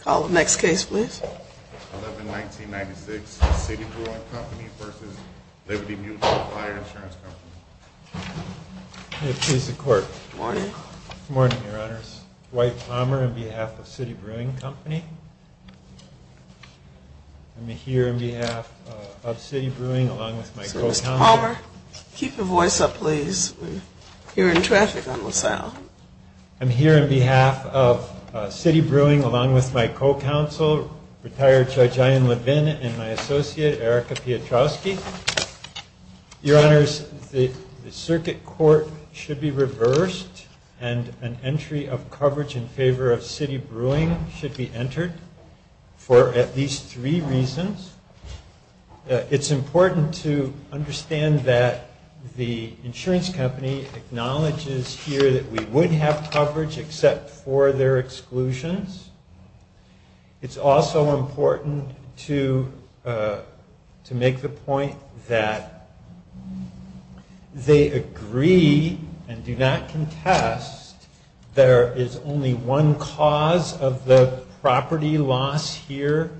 Call the next case, please. 11-1996 City Brewing Co. v. Liberty Mutual Fire Insurance Co. May it please the Court. Good morning. Good morning, Your Honors. Dwight Palmer on behalf of City Brewing Co. I'm here on behalf of City Brewing along with my co-counsel. Mr. Palmer, keep your voice up, please. You're in traffic on LaSalle. I'm here on behalf of City Brewing along with my co-counsel, retired Judge Ian Levin, and my associate, Erica Piotrowski. Your Honors, the circuit court should be reversed, and an entry of coverage in favor of City Brewing should be entered for at least three reasons. It's important to understand that the insurance company acknowledges here that we would have coverage except for their exclusions. It's also important to make the point that they agree and do not contest there is only one cause of the property loss here.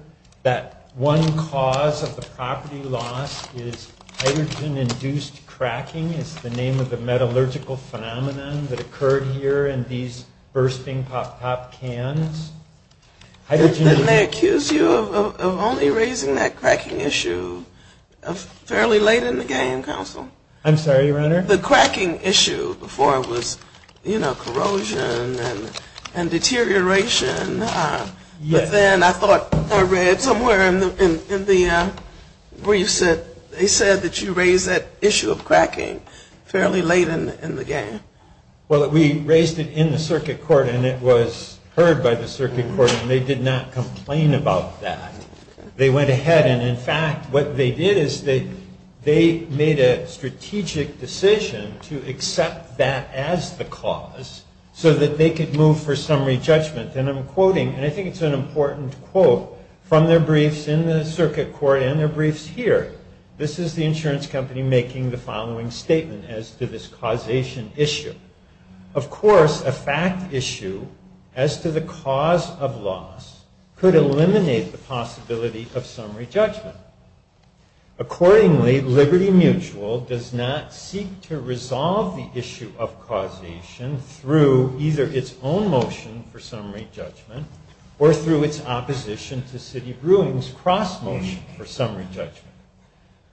That one cause of the property loss is hydrogen-induced cracking, is the name of the metallurgical phenomenon that occurred here in these bursting pop-top cans. Didn't they accuse you of only raising that cracking issue fairly late in the game, Counsel? I'm sorry, Your Honor? The cracking issue before it was, you know, corrosion and deterioration. But then I thought I read somewhere in the briefs that they said that you raised that issue of cracking fairly late in the game. Well, we raised it in the circuit court, and it was heard by the circuit court, and they did not complain about that. They went ahead, and in fact, what they did is they made a strategic decision to accept that as the cause so that they could move for summary judgment. And I'm quoting, and I think it's an important quote from their briefs in the circuit court and their briefs here. This is the insurance company making the following statement as to this causation issue. Of course, a fact issue as to the cause of loss could eliminate the possibility of summary judgment. Accordingly, Liberty Mutual does not seek to resolve the issue of causation through either its own motion for summary judgment or through its opposition to City Brewing's cross-motion for summary judgment.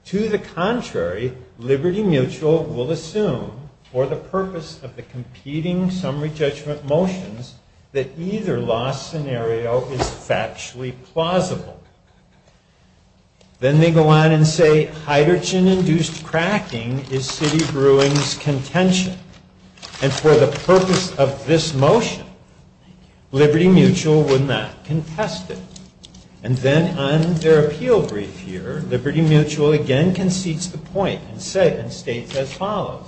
To the contrary, Liberty Mutual will assume for the purpose of the competing summary judgment motions that either loss scenario is factually plausible. Then they go on and say hydrogen-induced cracking is City Brewing's contention. And for the purpose of this motion, Liberty Mutual would not contest it. And then on their appeal brief here, Liberty Mutual again concedes the point and states as follows.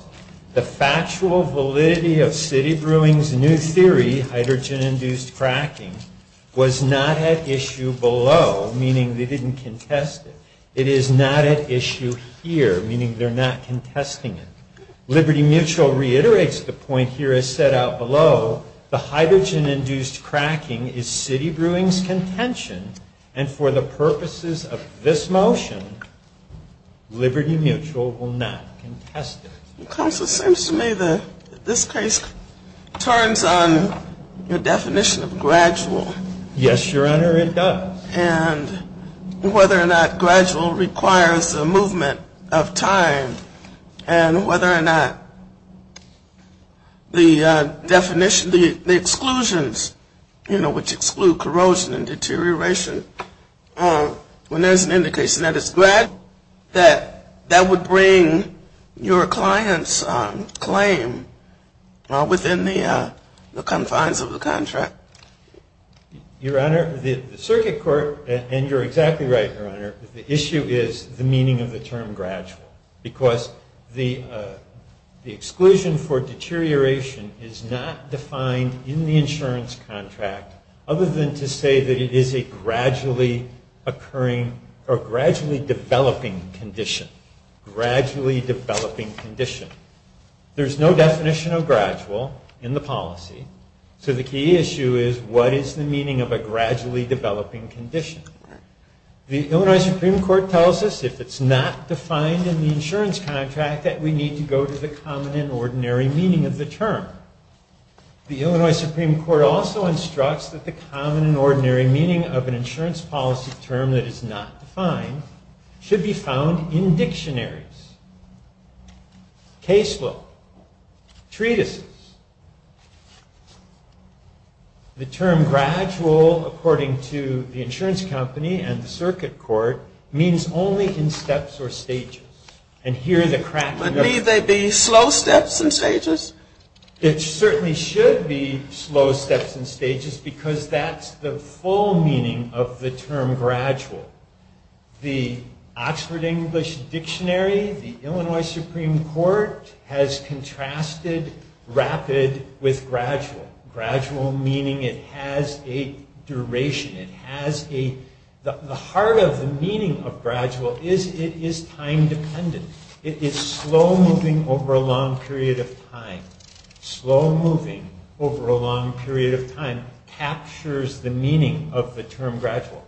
The factual validity of City Brewing's new theory, hydrogen-induced cracking, was not at issue below, meaning they didn't contest it. It is not at issue here, meaning they're not contesting it. Liberty Mutual reiterates the point here as set out below. The hydrogen-induced cracking is City Brewing's contention. And for the purposes of this motion, Liberty Mutual will not contest it. Counsel, it seems to me that this case turns on the definition of gradual. Yes, Your Honor, it does. And whether or not gradual requires a movement of time and whether or not the definition, the exclusions, you know, which exclude corrosion and deterioration, when there's an indication that it's gradual, that that would bring your client's claim within the confines of the contract. Your Honor, the circuit court, and you're exactly right, Your Honor, the issue is the meaning of the term gradual. Because the exclusion for deterioration is not defined in the insurance contract, other than to say that it is a gradually occurring or gradually developing condition. Gradually developing condition. There's no definition of gradual in the policy. So the key issue is what is the meaning of a gradually developing condition. The Illinois Supreme Court tells us if it's not defined in the insurance contract, that we need to go to the common and ordinary meaning of the term. The Illinois Supreme Court also instructs that the common and ordinary meaning of an insurance policy term that is not defined should be found in dictionaries, case law, treatises. The term gradual, according to the insurance company and the circuit court, means only in steps or stages. And here the cracking up... But need they be slow steps and stages? It certainly should be slow steps and stages because that's the full meaning of the term gradual. The Oxford English Dictionary, the Illinois Supreme Court has contrasted rapid with gradual. Gradual meaning it has a duration, it has a... The heart of the meaning of gradual is it is time dependent. It is slow moving over a long period of time. Slow moving over a long period of time captures the meaning of the term gradual.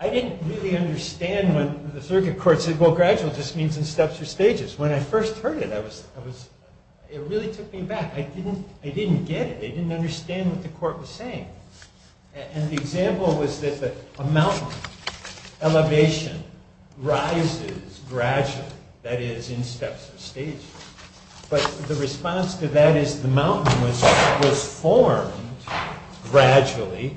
I didn't really understand when the circuit court said, well gradual just means in steps or stages. When I first heard it, it really took me back. I didn't get it. I didn't understand what the court was saying. And the example was that a mountain, elevation, rises gradually, that is in steps or stages. But the response to that is the mountain was formed gradually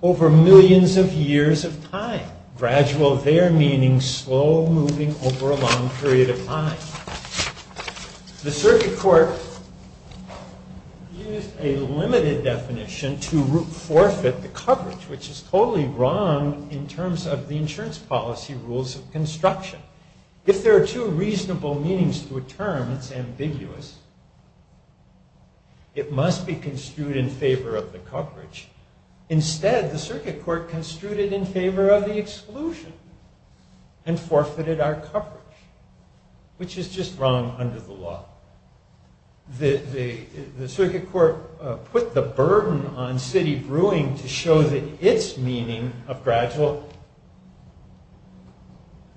over millions of years of time. Gradual there meaning slow moving over a long period of time. The circuit court used a limited definition to forfeit the coverage, which is totally wrong in terms of the insurance policy rules of construction. If there are two reasonable meanings to a term, it's ambiguous. It must be construed in favor of the coverage. Instead, the circuit court construed it in favor of the exclusion and forfeited our coverage, which is just wrong under the law. The circuit court put the burden on city brewing to show that its meaning of gradual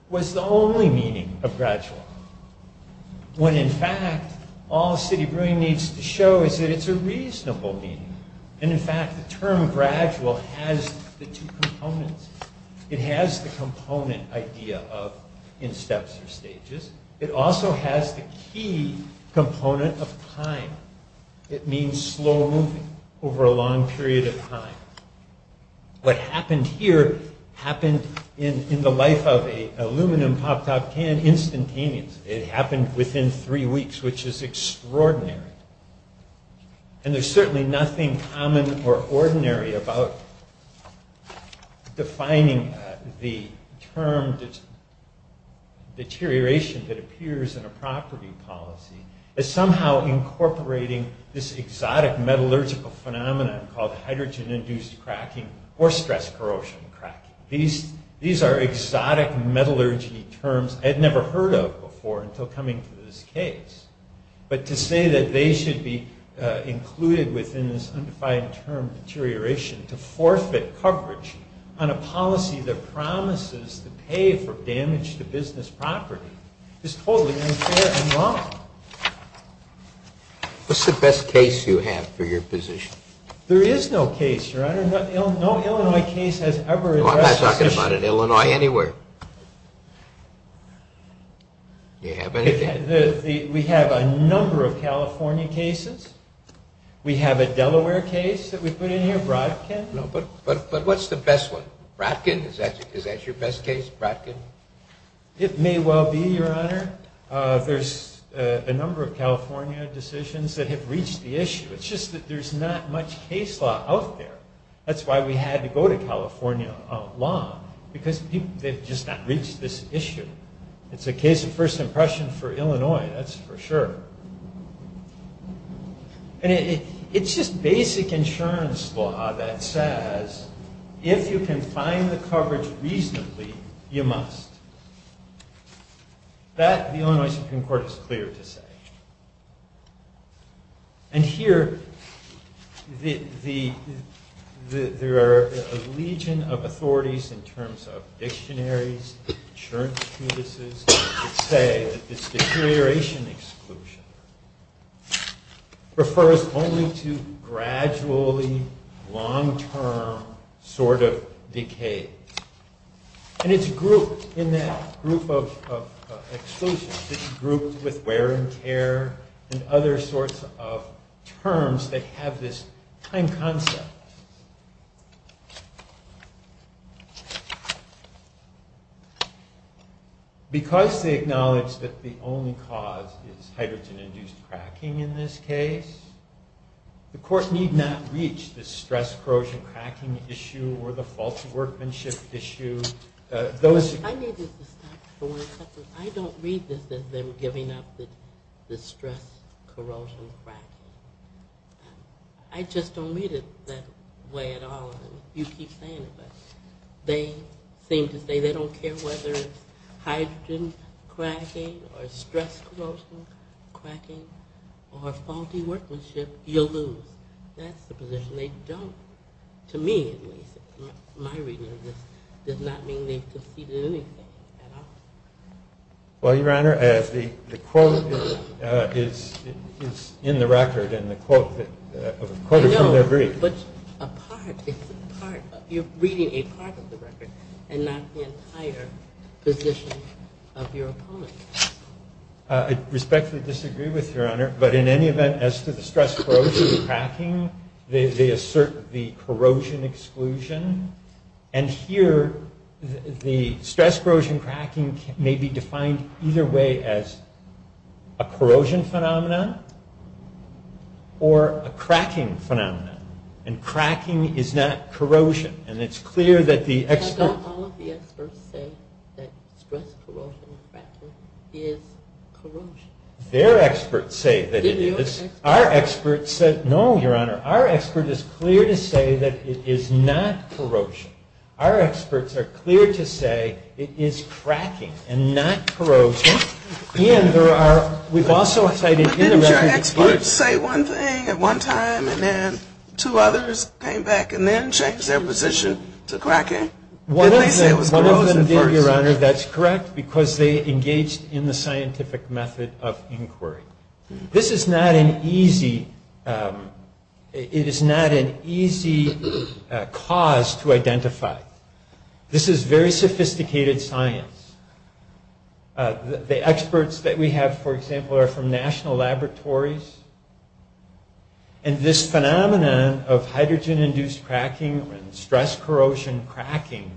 was the only meaning of gradual. When in fact, all city brewing needs to show is that it's a reasonable meaning. And in fact, the term gradual has the two components. It has the component idea of in steps or stages. It also has the key component of time. It means slow moving over a long period of time. What happened here happened in the life of an aluminum pop-top can instantaneous. It happened within three weeks, which is extraordinary. There's certainly nothing common or ordinary about defining the term deterioration that appears in a property policy as somehow incorporating this exotic metallurgical phenomenon called hydrogen-induced cracking or stress-corrosion cracking. These are exotic metallurgy terms I had never heard of before until coming to this case. But to say that they should be included within this undefined term deterioration to forfeit coverage on a policy that promises to pay for damage to business property is totally unfair and wrong. What's the best case you have for your position? There is no case, Your Honor. No Illinois case has ever addressed this issue. No, I'm not talking about an Illinois anywhere. Do you have anything? We have a number of California cases. We have a Delaware case that we put in here, Brodkin. But what's the best one? Brodkin? Is that your best case, Brodkin? It may well be, Your Honor. There's a number of California decisions that have reached the issue. It's just that there's not much case law out there. That's why we had to go to California law, because they've just not reached this issue. It's a case of first impression for Illinois, that's for sure. It's just basic insurance law that says, if you can find the coverage reasonably, you must. That, the Illinois Supreme Court is clear to say. And here, there are a legion of authorities in terms of dictionaries, insurance treatises, that say that this deterioration exclusion refers only to gradually, long-term sort of decays. And it's grouped in that group of exclusions. It's grouped with wear and tear and other sorts of terms that have this time concept. Because they acknowledge that the only cause is hydrogen-induced cracking in this case, the court need not reach the stress-corrosion-cracking issue or the faulty workmanship issue. I need you to stop for one second. I don't read this as them giving up the stress-corrosion-cracking. I just don't read it that way at all. You keep saying it, but they seem to say they don't care whether it's hydrogen-cracking or stress-corrosion-cracking or faulty workmanship. You'll lose. That's the position. They don't, to me at least. My reading of this does not mean they've conceded anything at all. Well, Your Honor, the quote is in the record, and the quote is from their brief. I know, but a part, it's a part. You're reading a part of the record and not the entire position of your opponent. I respectfully disagree with you, Your Honor. But in any event, as to the stress-corrosion-cracking, they assert the corrosion exclusion. And here, the stress-corrosion-cracking may be defined either way as a corrosion phenomenon or a cracking phenomenon. And cracking is not corrosion. And it's clear that the expert... But don't all of the experts say that stress-corrosion-cracking is corrosion? Their experts say that it is. Did your experts? Our experts said, no, Your Honor. Our expert is clear to say that it is not corrosion. Our experts are clear to say it is cracking and not corrosion. And there are, we've also cited in the record... Did they say one thing at one time, and then two others came back and then changed their position to cracking? One of them did, Your Honor. That's correct, because they engaged in the scientific method of inquiry. This is not an easy... It is not an easy cause to identify. This is very sophisticated science. The experts that we have, for example, are from national laboratories. And this phenomenon of hydrogen-induced cracking and stress-corrosion-cracking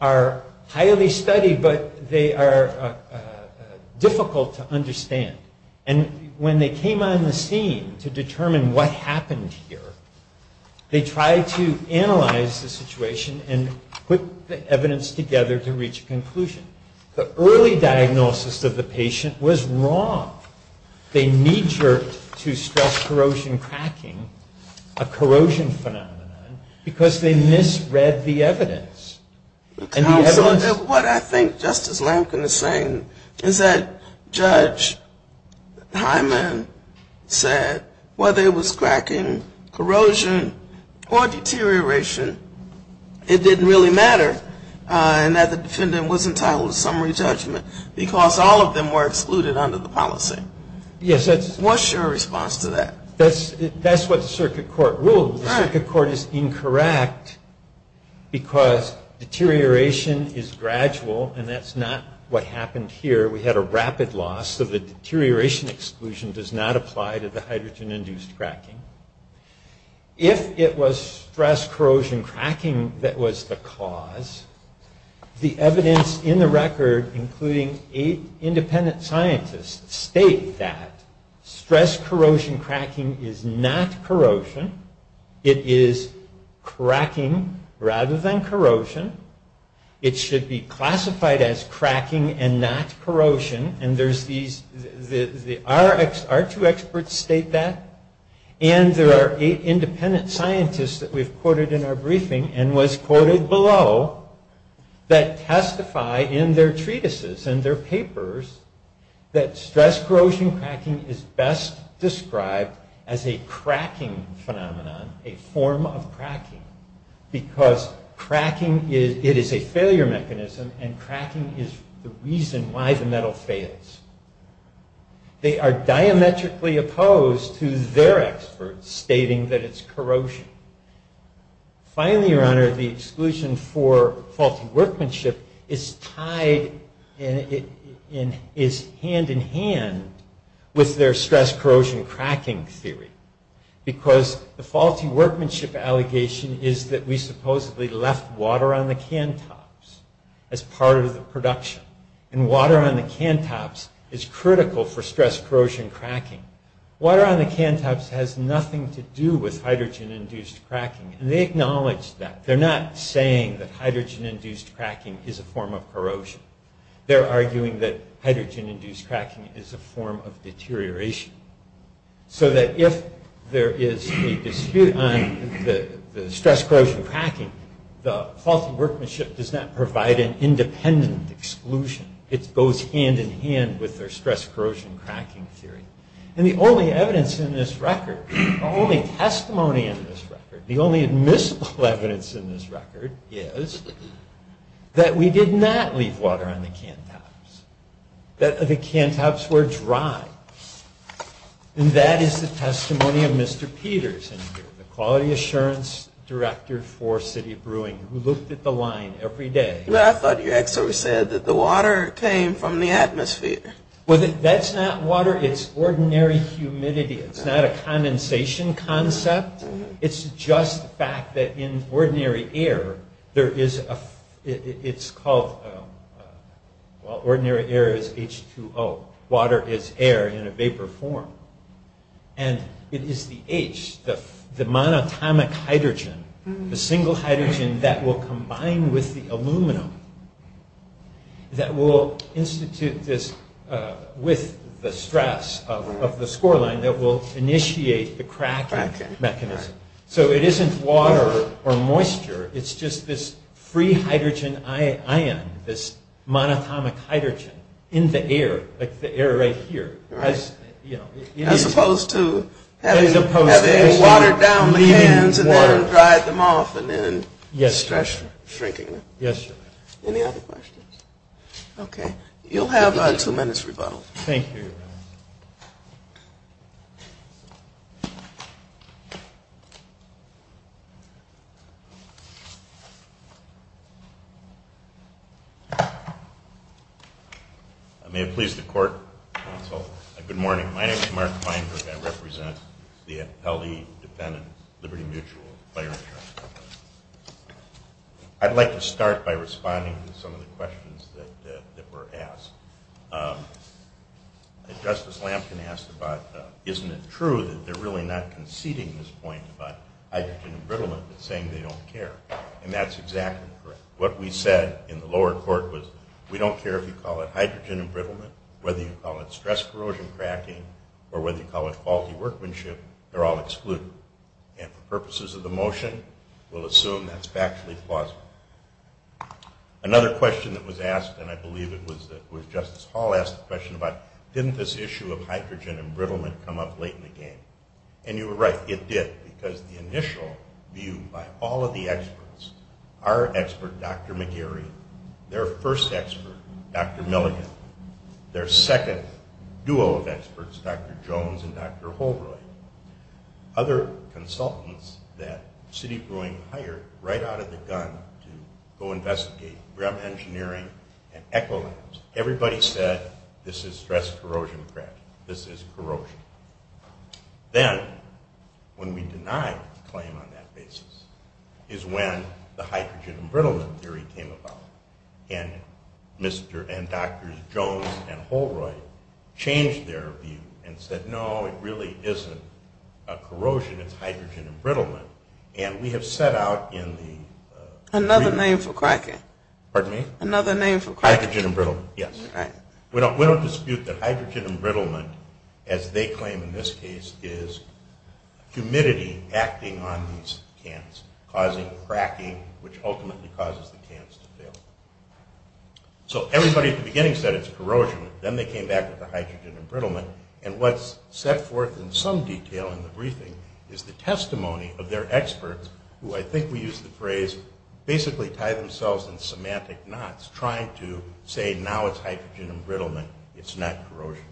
are highly studied, but they are difficult to understand. And when they came on the scene to determine what happened here, they tried to analyze the situation and put the evidence together to reach a conclusion. The early diagnosis of the patient was wrong. They knee-jerked to stress-corrosion-cracking, a corrosion phenomenon, because they misread the evidence. And the evidence... Counsel, what I think Justice Lampkin is saying is that Judge Hyman said that whether it was cracking, corrosion, or deterioration, it didn't really matter, and that the defendant was entitled to summary judgment because all of them were excluded under the policy. Yes, that's... What's your response to that? That's what the circuit court ruled. The circuit court is incorrect because deterioration is gradual, and that's not what happened here. We had a rapid loss, so the deterioration exclusion does not apply to the hydrogen-induced cracking. If it was stress-corrosion-cracking that was the cause, the evidence in the record, including eight independent scientists, state that stress-corrosion-cracking is not corrosion. It is cracking rather than corrosion. It should be classified as cracking and not corrosion, and there's these... Our two experts state that, and there are eight independent scientists that we've quoted in our briefing and was quoted below that testify in their treatises and their papers that stress-corrosion-cracking is best described as a cracking phenomenon, a form of cracking, because cracking is... And the metal fails. They are diametrically opposed to their experts stating that it's corrosion. Finally, Your Honor, the exclusion for faulty workmanship is tied... is hand-in-hand with their stress-corrosion-cracking theory, because the faulty workmanship allegation is that we supposedly left water on the can tops as part of the production, and water on the can tops is critical for stress-corrosion-cracking. Water on the can tops has nothing to do with hydrogen-induced cracking, and they acknowledge that. They're not saying that hydrogen-induced cracking is a form of corrosion. They're arguing that hydrogen-induced cracking is a form of deterioration, so that if there is a dispute on the stress-corrosion-cracking, the faulty workmanship does not provide an independent exclusion. It goes hand-in-hand with their stress-corrosion-cracking theory. And the only evidence in this record, the only testimony in this record, the only admissible evidence in this record is that we did not leave water on the can tops, that the can tops were dry. And that is the testimony of Mr. Peters in here, the Quality Assurance Director for City Brewing, who looked at the line every day. I thought your excerpt said that the water came from the atmosphere. Well, that's not water. It's ordinary humidity. It's not a condensation concept. It's just the fact that in ordinary air, there is a – it's called – well, ordinary air is H2O. Water is air in a vapor form. And it is the H, the monatomic hydrogen, the single hydrogen that will combine with the aluminum that will institute this with the stress of the score line that will initiate the cracking mechanism. So it isn't water or moisture. It's just this free hydrogen ion, this monatomic hydrogen in the air, like the air right here. As opposed to having water down the cans and then dried them off and then stress shrinking them. Yes, sir. Any other questions? Okay. You'll have two minutes rebuttal. Thank you. Thank you. May it please the court, counsel. Good morning. My name is Mark Feinberg. I represent the Appellee-Dependent Liberty Mutual Fire Insurance Company. I'd like to start by responding to some of the questions that were asked. Justice Lamkin asked about isn't it true that they're really not conceding this point about hydrogen embrittlement, but saying they don't care. And that's exactly correct. What we said in the lower court was we don't care if you call it hydrogen embrittlement, whether you call it stress corrosion cracking, or whether you call it faulty workmanship, they're all excluded. And for purposes of the motion, we'll assume that's factually plausible. Another question that was asked, and I believe it was Justice Hall asked the question about didn't this issue of hydrogen embrittlement come up late in the game? And you were right. It did, because the initial view by all of the experts, our expert, Dr. McGarry, their first expert, Dr. Milligan, their second duo of experts, Dr. Jones and Dr. Holroyd, other consultants that Citi Brewing hired right out of the gun to go investigate, Brehm Engineering and Ecolabs, everybody said this is stress corrosion cracking. This is corrosion. Then when we denied the claim on that basis is when the hydrogen embrittlement theory came about. And Drs. Jones and Holroyd changed their view and said, no, it really isn't corrosion, it's hydrogen embrittlement. And we have set out in the... Another name for cracking. Pardon me? Another name for cracking. Hydrogen embrittlement, yes. We don't dispute that hydrogen embrittlement, as they claim in this case, is humidity acting on these cans, causing cracking, which ultimately causes the cans to fail. So everybody at the beginning said it's corrosion. Then they came back with the hydrogen embrittlement. And what's set forth in some detail in the briefing is the testimony of their experts, who I think we used the phrase basically tie themselves in semantic knots, trying to say now it's hydrogen embrittlement, it's not corrosion.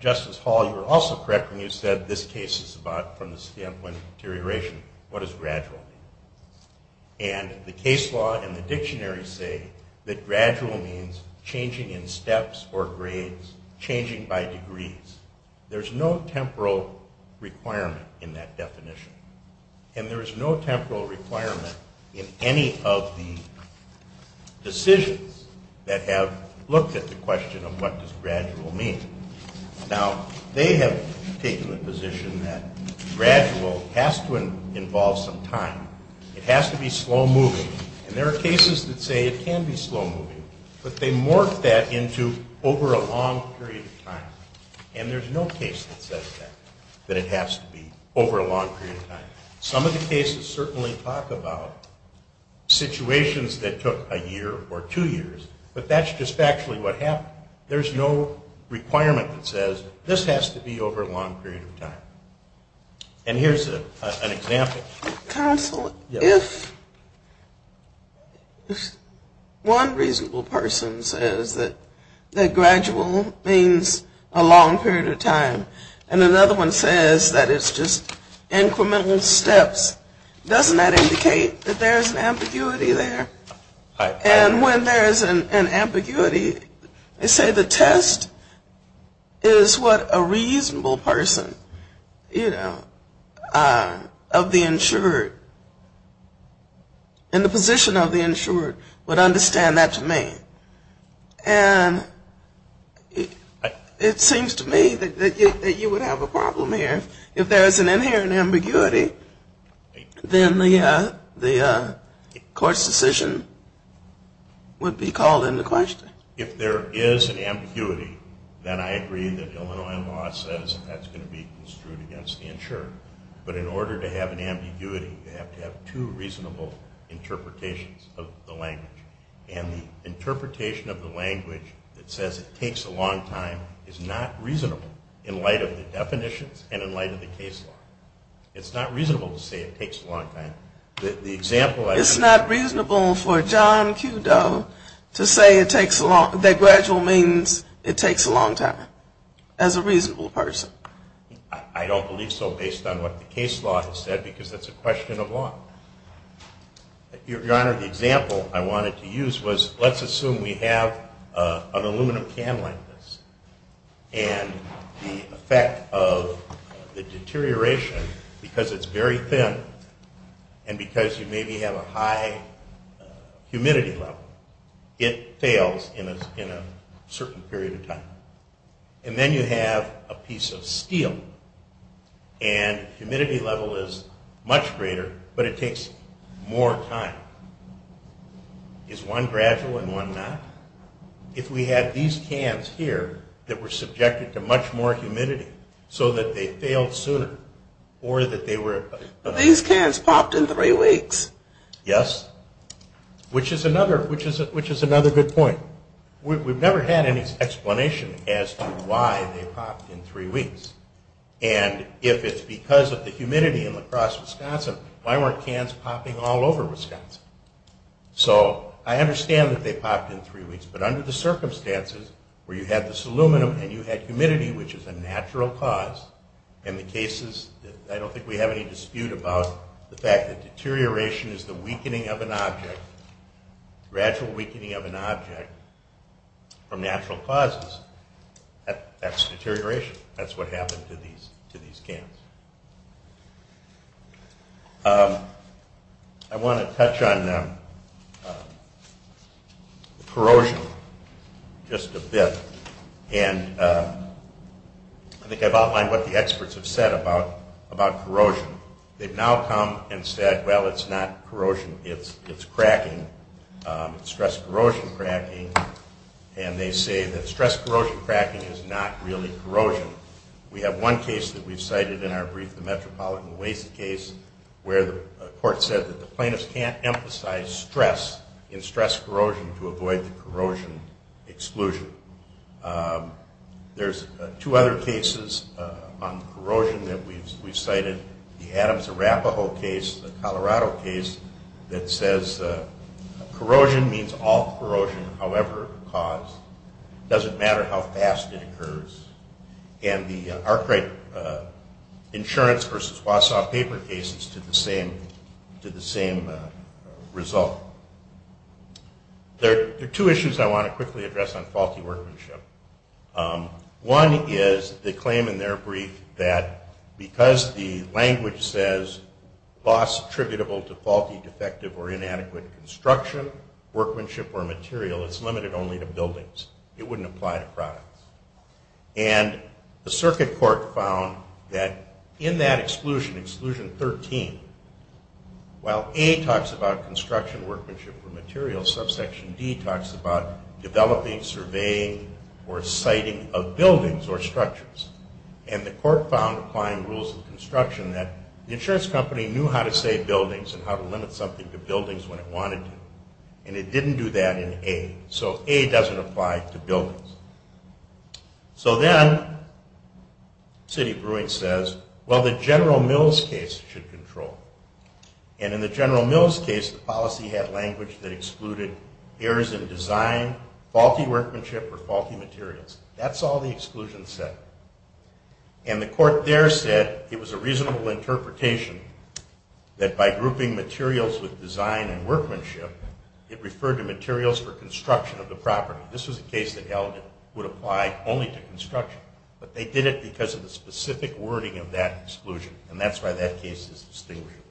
Justice Hall, you were also correct when you said this case is about, from the standpoint of deterioration, what does gradual mean? And the case law and the dictionary say that gradual means changing in steps or grades, changing by degrees. There's no temporal requirement in that definition. And there is no temporal requirement in any of the decisions that have looked at the question of what does gradual mean. Now, they have taken the position that gradual has to involve some time. It has to be slow moving. And there are cases that say it can be slow moving, but they morph that into over a long period of time. And there's no case that says that, that it has to be over a long period of time. Some of the cases certainly talk about situations that took a year or two years, but that's just actually what happened. There's no requirement that says this has to be over a long period of time. And here's an example. Counsel, if one reasonable person says that gradual means a long period of time and another one says that it's just incremental steps, doesn't that indicate that there's an ambiguity there? And when there is an ambiguity, they say the test is what a reasonable person, you know, of the insured, in the position of the insured, would understand that to mean. And it seems to me that you would have a problem here. If there is an inherent ambiguity, then the court's decision would be called into question. If there is an ambiguity, then I agree that Illinois law says that's going to be construed against the insured. But in order to have an ambiguity, you have to have two reasonable interpretations of the language. And the interpretation of the language that says it takes a long time is not reasonable in light of the definitions and in light of the case law. It's not reasonable to say it takes a long time. It's not reasonable for John Q. Doe to say that gradual means it takes a long time, as a reasonable person. I don't believe so based on what the case law has said, because that's a question of law. Your Honor, the example I wanted to use was, let's assume we have an aluminum can like this. And the effect of the deterioration, because it's very thin, and because you maybe have a high humidity level, it fails in a certain period of time. And then you have a piece of steel, and humidity level is much greater, but it takes more time. Is one gradual and one not? If we had these cans here that were subjected to much more humidity, so that they failed sooner, or that they were... These cans popped in three weeks. Yes. Which is another good point. We've never had any explanation as to why they popped in three weeks. And if it's because of the humidity in La Crosse, Wisconsin, why weren't cans popping all over Wisconsin? So I understand that they popped in three weeks, but under the circumstances where you had this aluminum, and you had humidity, which is a natural cause, and the cases... I don't think we have any dispute about the fact that deterioration is the weakening of an object, gradual weakening of an object from natural causes. That's deterioration. That's what happened to these cans. I want to touch on corrosion just a bit. And I think I've outlined what the experts have said about corrosion. They've now come and said, well, it's not corrosion. It's cracking. It's stress-corrosion cracking. And they say that stress-corrosion cracking is not really corrosion. We have one case that we've cited in our brief, the Metropolitan Waste case, where the court said that the plaintiffs can't emphasize stress in stress-corrosion to avoid the corrosion exclusion. There's two other cases on corrosion that we've cited. The Adams-Arapaho case, the Colorado case, that says corrosion means all corrosion, however caused. Doesn't matter how fast it occurs. And the Arkwright Insurance versus Wausau paper cases did the same result. There are two issues I want to quickly address on faulty workmanship. One is the claim in their brief that because the language says loss attributable to faulty, defective, or inadequate construction, workmanship, or material, it's limited only to buildings. It wouldn't apply to products. And the circuit court found that in that exclusion, exclusion 13, while A talks about construction, workmanship, or material, subsection D talks about developing, surveying, or citing of buildings or structures. And the court found applying rules of construction that the insurance company knew how to say buildings and how to limit something to buildings when it wanted to. And it didn't do that in A. So A doesn't apply to buildings. So then, Sidney Brewing says, well, the General Mills case should control. And in the General Mills case, the policy had language that excluded errors in design, faulty workmanship, or faulty materials. That's all the exclusion said. And the court there said it was a reasonable interpretation that by grouping This was a case that held it would apply only to construction. But they did it because of the specific wording of that exclusion. And that's why that case is distinguishable.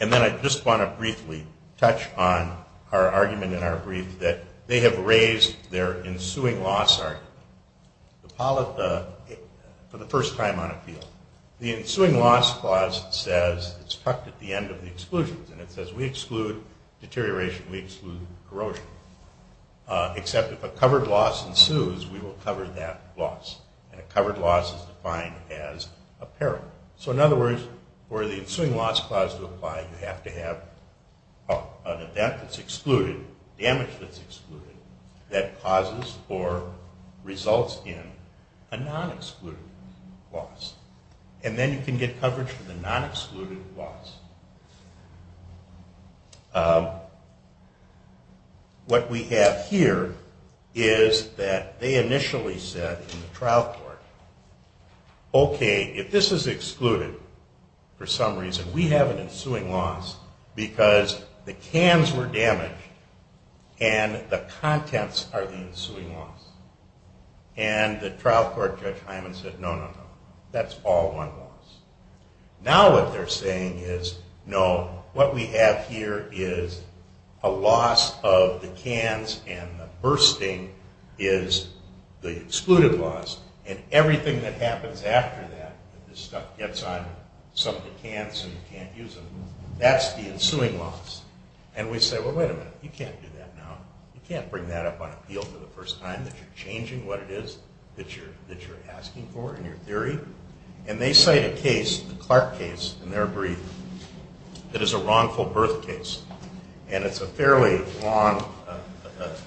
And then I just want to briefly touch on our argument in our brief that they have raised their ensuing loss argument for the first time on appeal. The ensuing loss clause says it's tucked at the end of the exclusions. And it says we exclude deterioration, we exclude corrosion. Except if a covered loss ensues, we will cover that loss. And a covered loss is defined as a peril. So in other words, for the ensuing loss clause to apply, you have to have an event that's excluded, damage that's excluded, that causes or results in a non-excluded loss. And then you can get coverage for the non-excluded loss. What we have here is that they initially said in the trial court, okay, if this is excluded for some reason, we have an ensuing loss because the cans were damaged and the contents are the ensuing loss. And the trial court judge Hyman said, no, no, no. That's all one loss. Now what they're saying is, no, what we have here is a loss of the cans and the bursting is the excluded loss. And everything that happens after that, that this stuff gets on some of the cans and you can't use them, that's the ensuing loss. And we say, well, wait a minute, you can't do that now. You can't bring that up on appeal for the first time that you're changing what it is that you're asking for in your theory. And they cite a case, the Clark case in their brief, that is a wrongful birth case. And it's a fairly long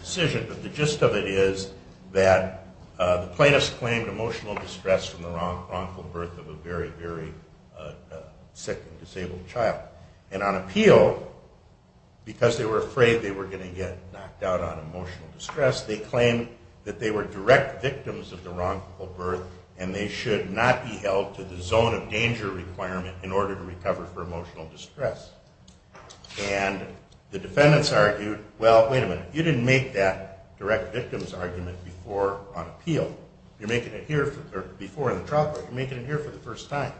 decision, but the gist of it is that the plaintiffs claimed emotional distress from the wrongful birth of a very, very sick and disabled child. And on appeal, because they were afraid they were going to get knocked out on emotional distress, they claimed that they were direct victims of the wrongful birth and they should not be held to the zone of danger requirement in order to recover for emotional distress. And the defendants argued, well, wait a minute, you didn't make that direct victims argument before on appeal. You're making it here before in the trial court. You're making it here for the first time.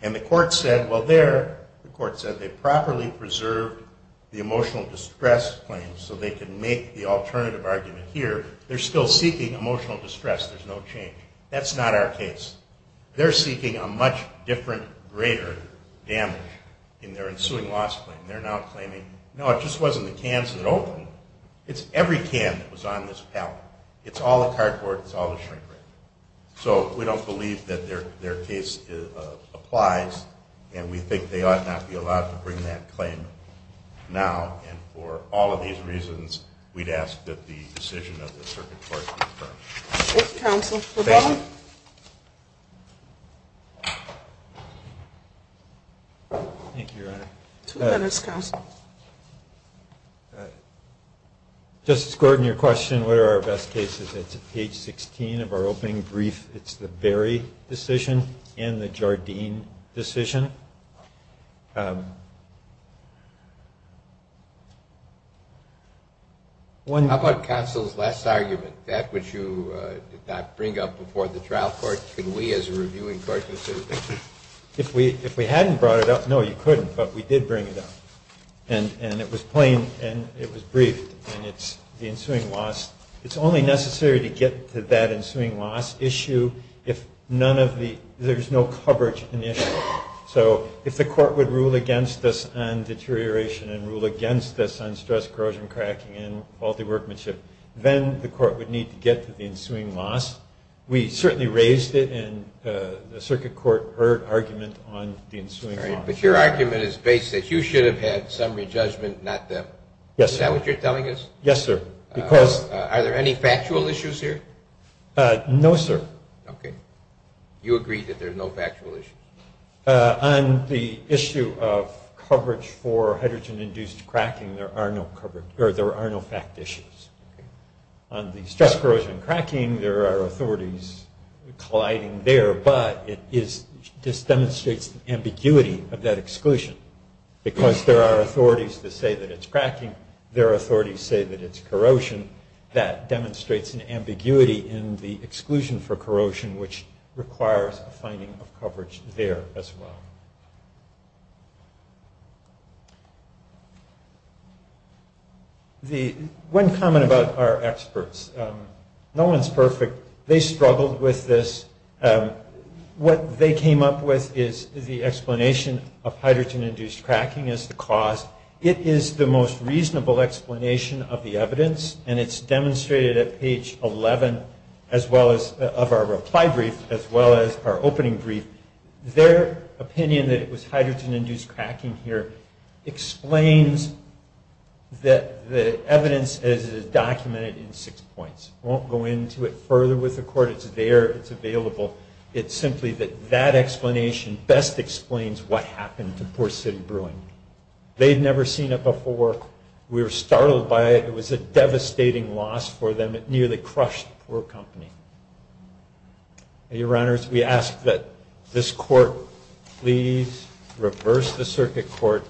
And the court said, well, there, the court said they properly preserved the emotional distress claim so they could make the alternative argument here. They're still seeking emotional distress. There's no change. That's not our case. They're seeking a much different, greater damage in their ensuing loss claim. And they're now claiming, no, it just wasn't the cans that opened. It's every can that was on this pallet. It's all the cardboard. It's all the shrink-wrapped. So we don't believe that their case applies, and we think they ought not be allowed to bring that claim now. And for all of these reasons, we'd ask that the decision of the circuit court be deferred. Thank you, Counsel. Thank you. Thank you, Your Honor. Two minutes, Counsel. Justice Gordon, your question, what are our best cases? It's at page 16 of our opening brief. It's the Berry decision and the Jardine decision. How about counsel's last argument, that which you did not bring up before the trial? If we hadn't brought it up, no, you couldn't. But we did bring it up. And it was plain, and it was briefed. And it's the ensuing loss. It's only necessary to get to that ensuing loss issue if none of the – there's no coverage of the issue. So if the court would rule against this and deterioration and rule against this on stress, corrosion, cracking, and faulty workmanship, then the court would need to get to the ensuing loss. We certainly raised it, and the circuit court heard argument on the ensuing loss. But your argument is based that you should have had summary judgment, not them. Yes, sir. Is that what you're telling us? Yes, sir. Are there any factual issues here? No, sir. Okay. You agree that there are no factual issues. On the issue of coverage for hydrogen-induced cracking, there are no fact issues. On the stress, corrosion, and cracking, there are authorities colliding there, but it just demonstrates ambiguity of that exclusion. Because there are authorities that say that it's cracking. There are authorities that say that it's corrosion. That demonstrates an ambiguity in the exclusion for corrosion, which requires a finding of coverage there as well. Okay. One comment about our experts. No one's perfect. They struggled with this. What they came up with is the explanation of hydrogen-induced cracking as the cause. It is the most reasonable explanation of the evidence, and it's demonstrated at page 11 of our reply brief as well as our opening brief. Their opinion that it was hydrogen-induced cracking here explains that the evidence is documented in six points. I won't go into it further with the court. It's there. It's available. It's simply that that explanation best explains what happened to Poor City Brewing. They had never seen it before. We were startled by it. It was a devastating loss for them. It nearly crushed the poor company. Your Honors, we ask that this court please reverse the circuit court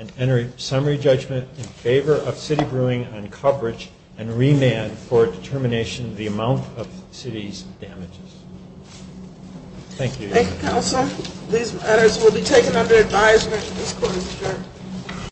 and enter summary judgment in favor of City Brewing on coverage and remand for determination of the amount of the city's damages. Thank you. Thank you, counsel. These matters will be taken under advisement. This court is adjourned.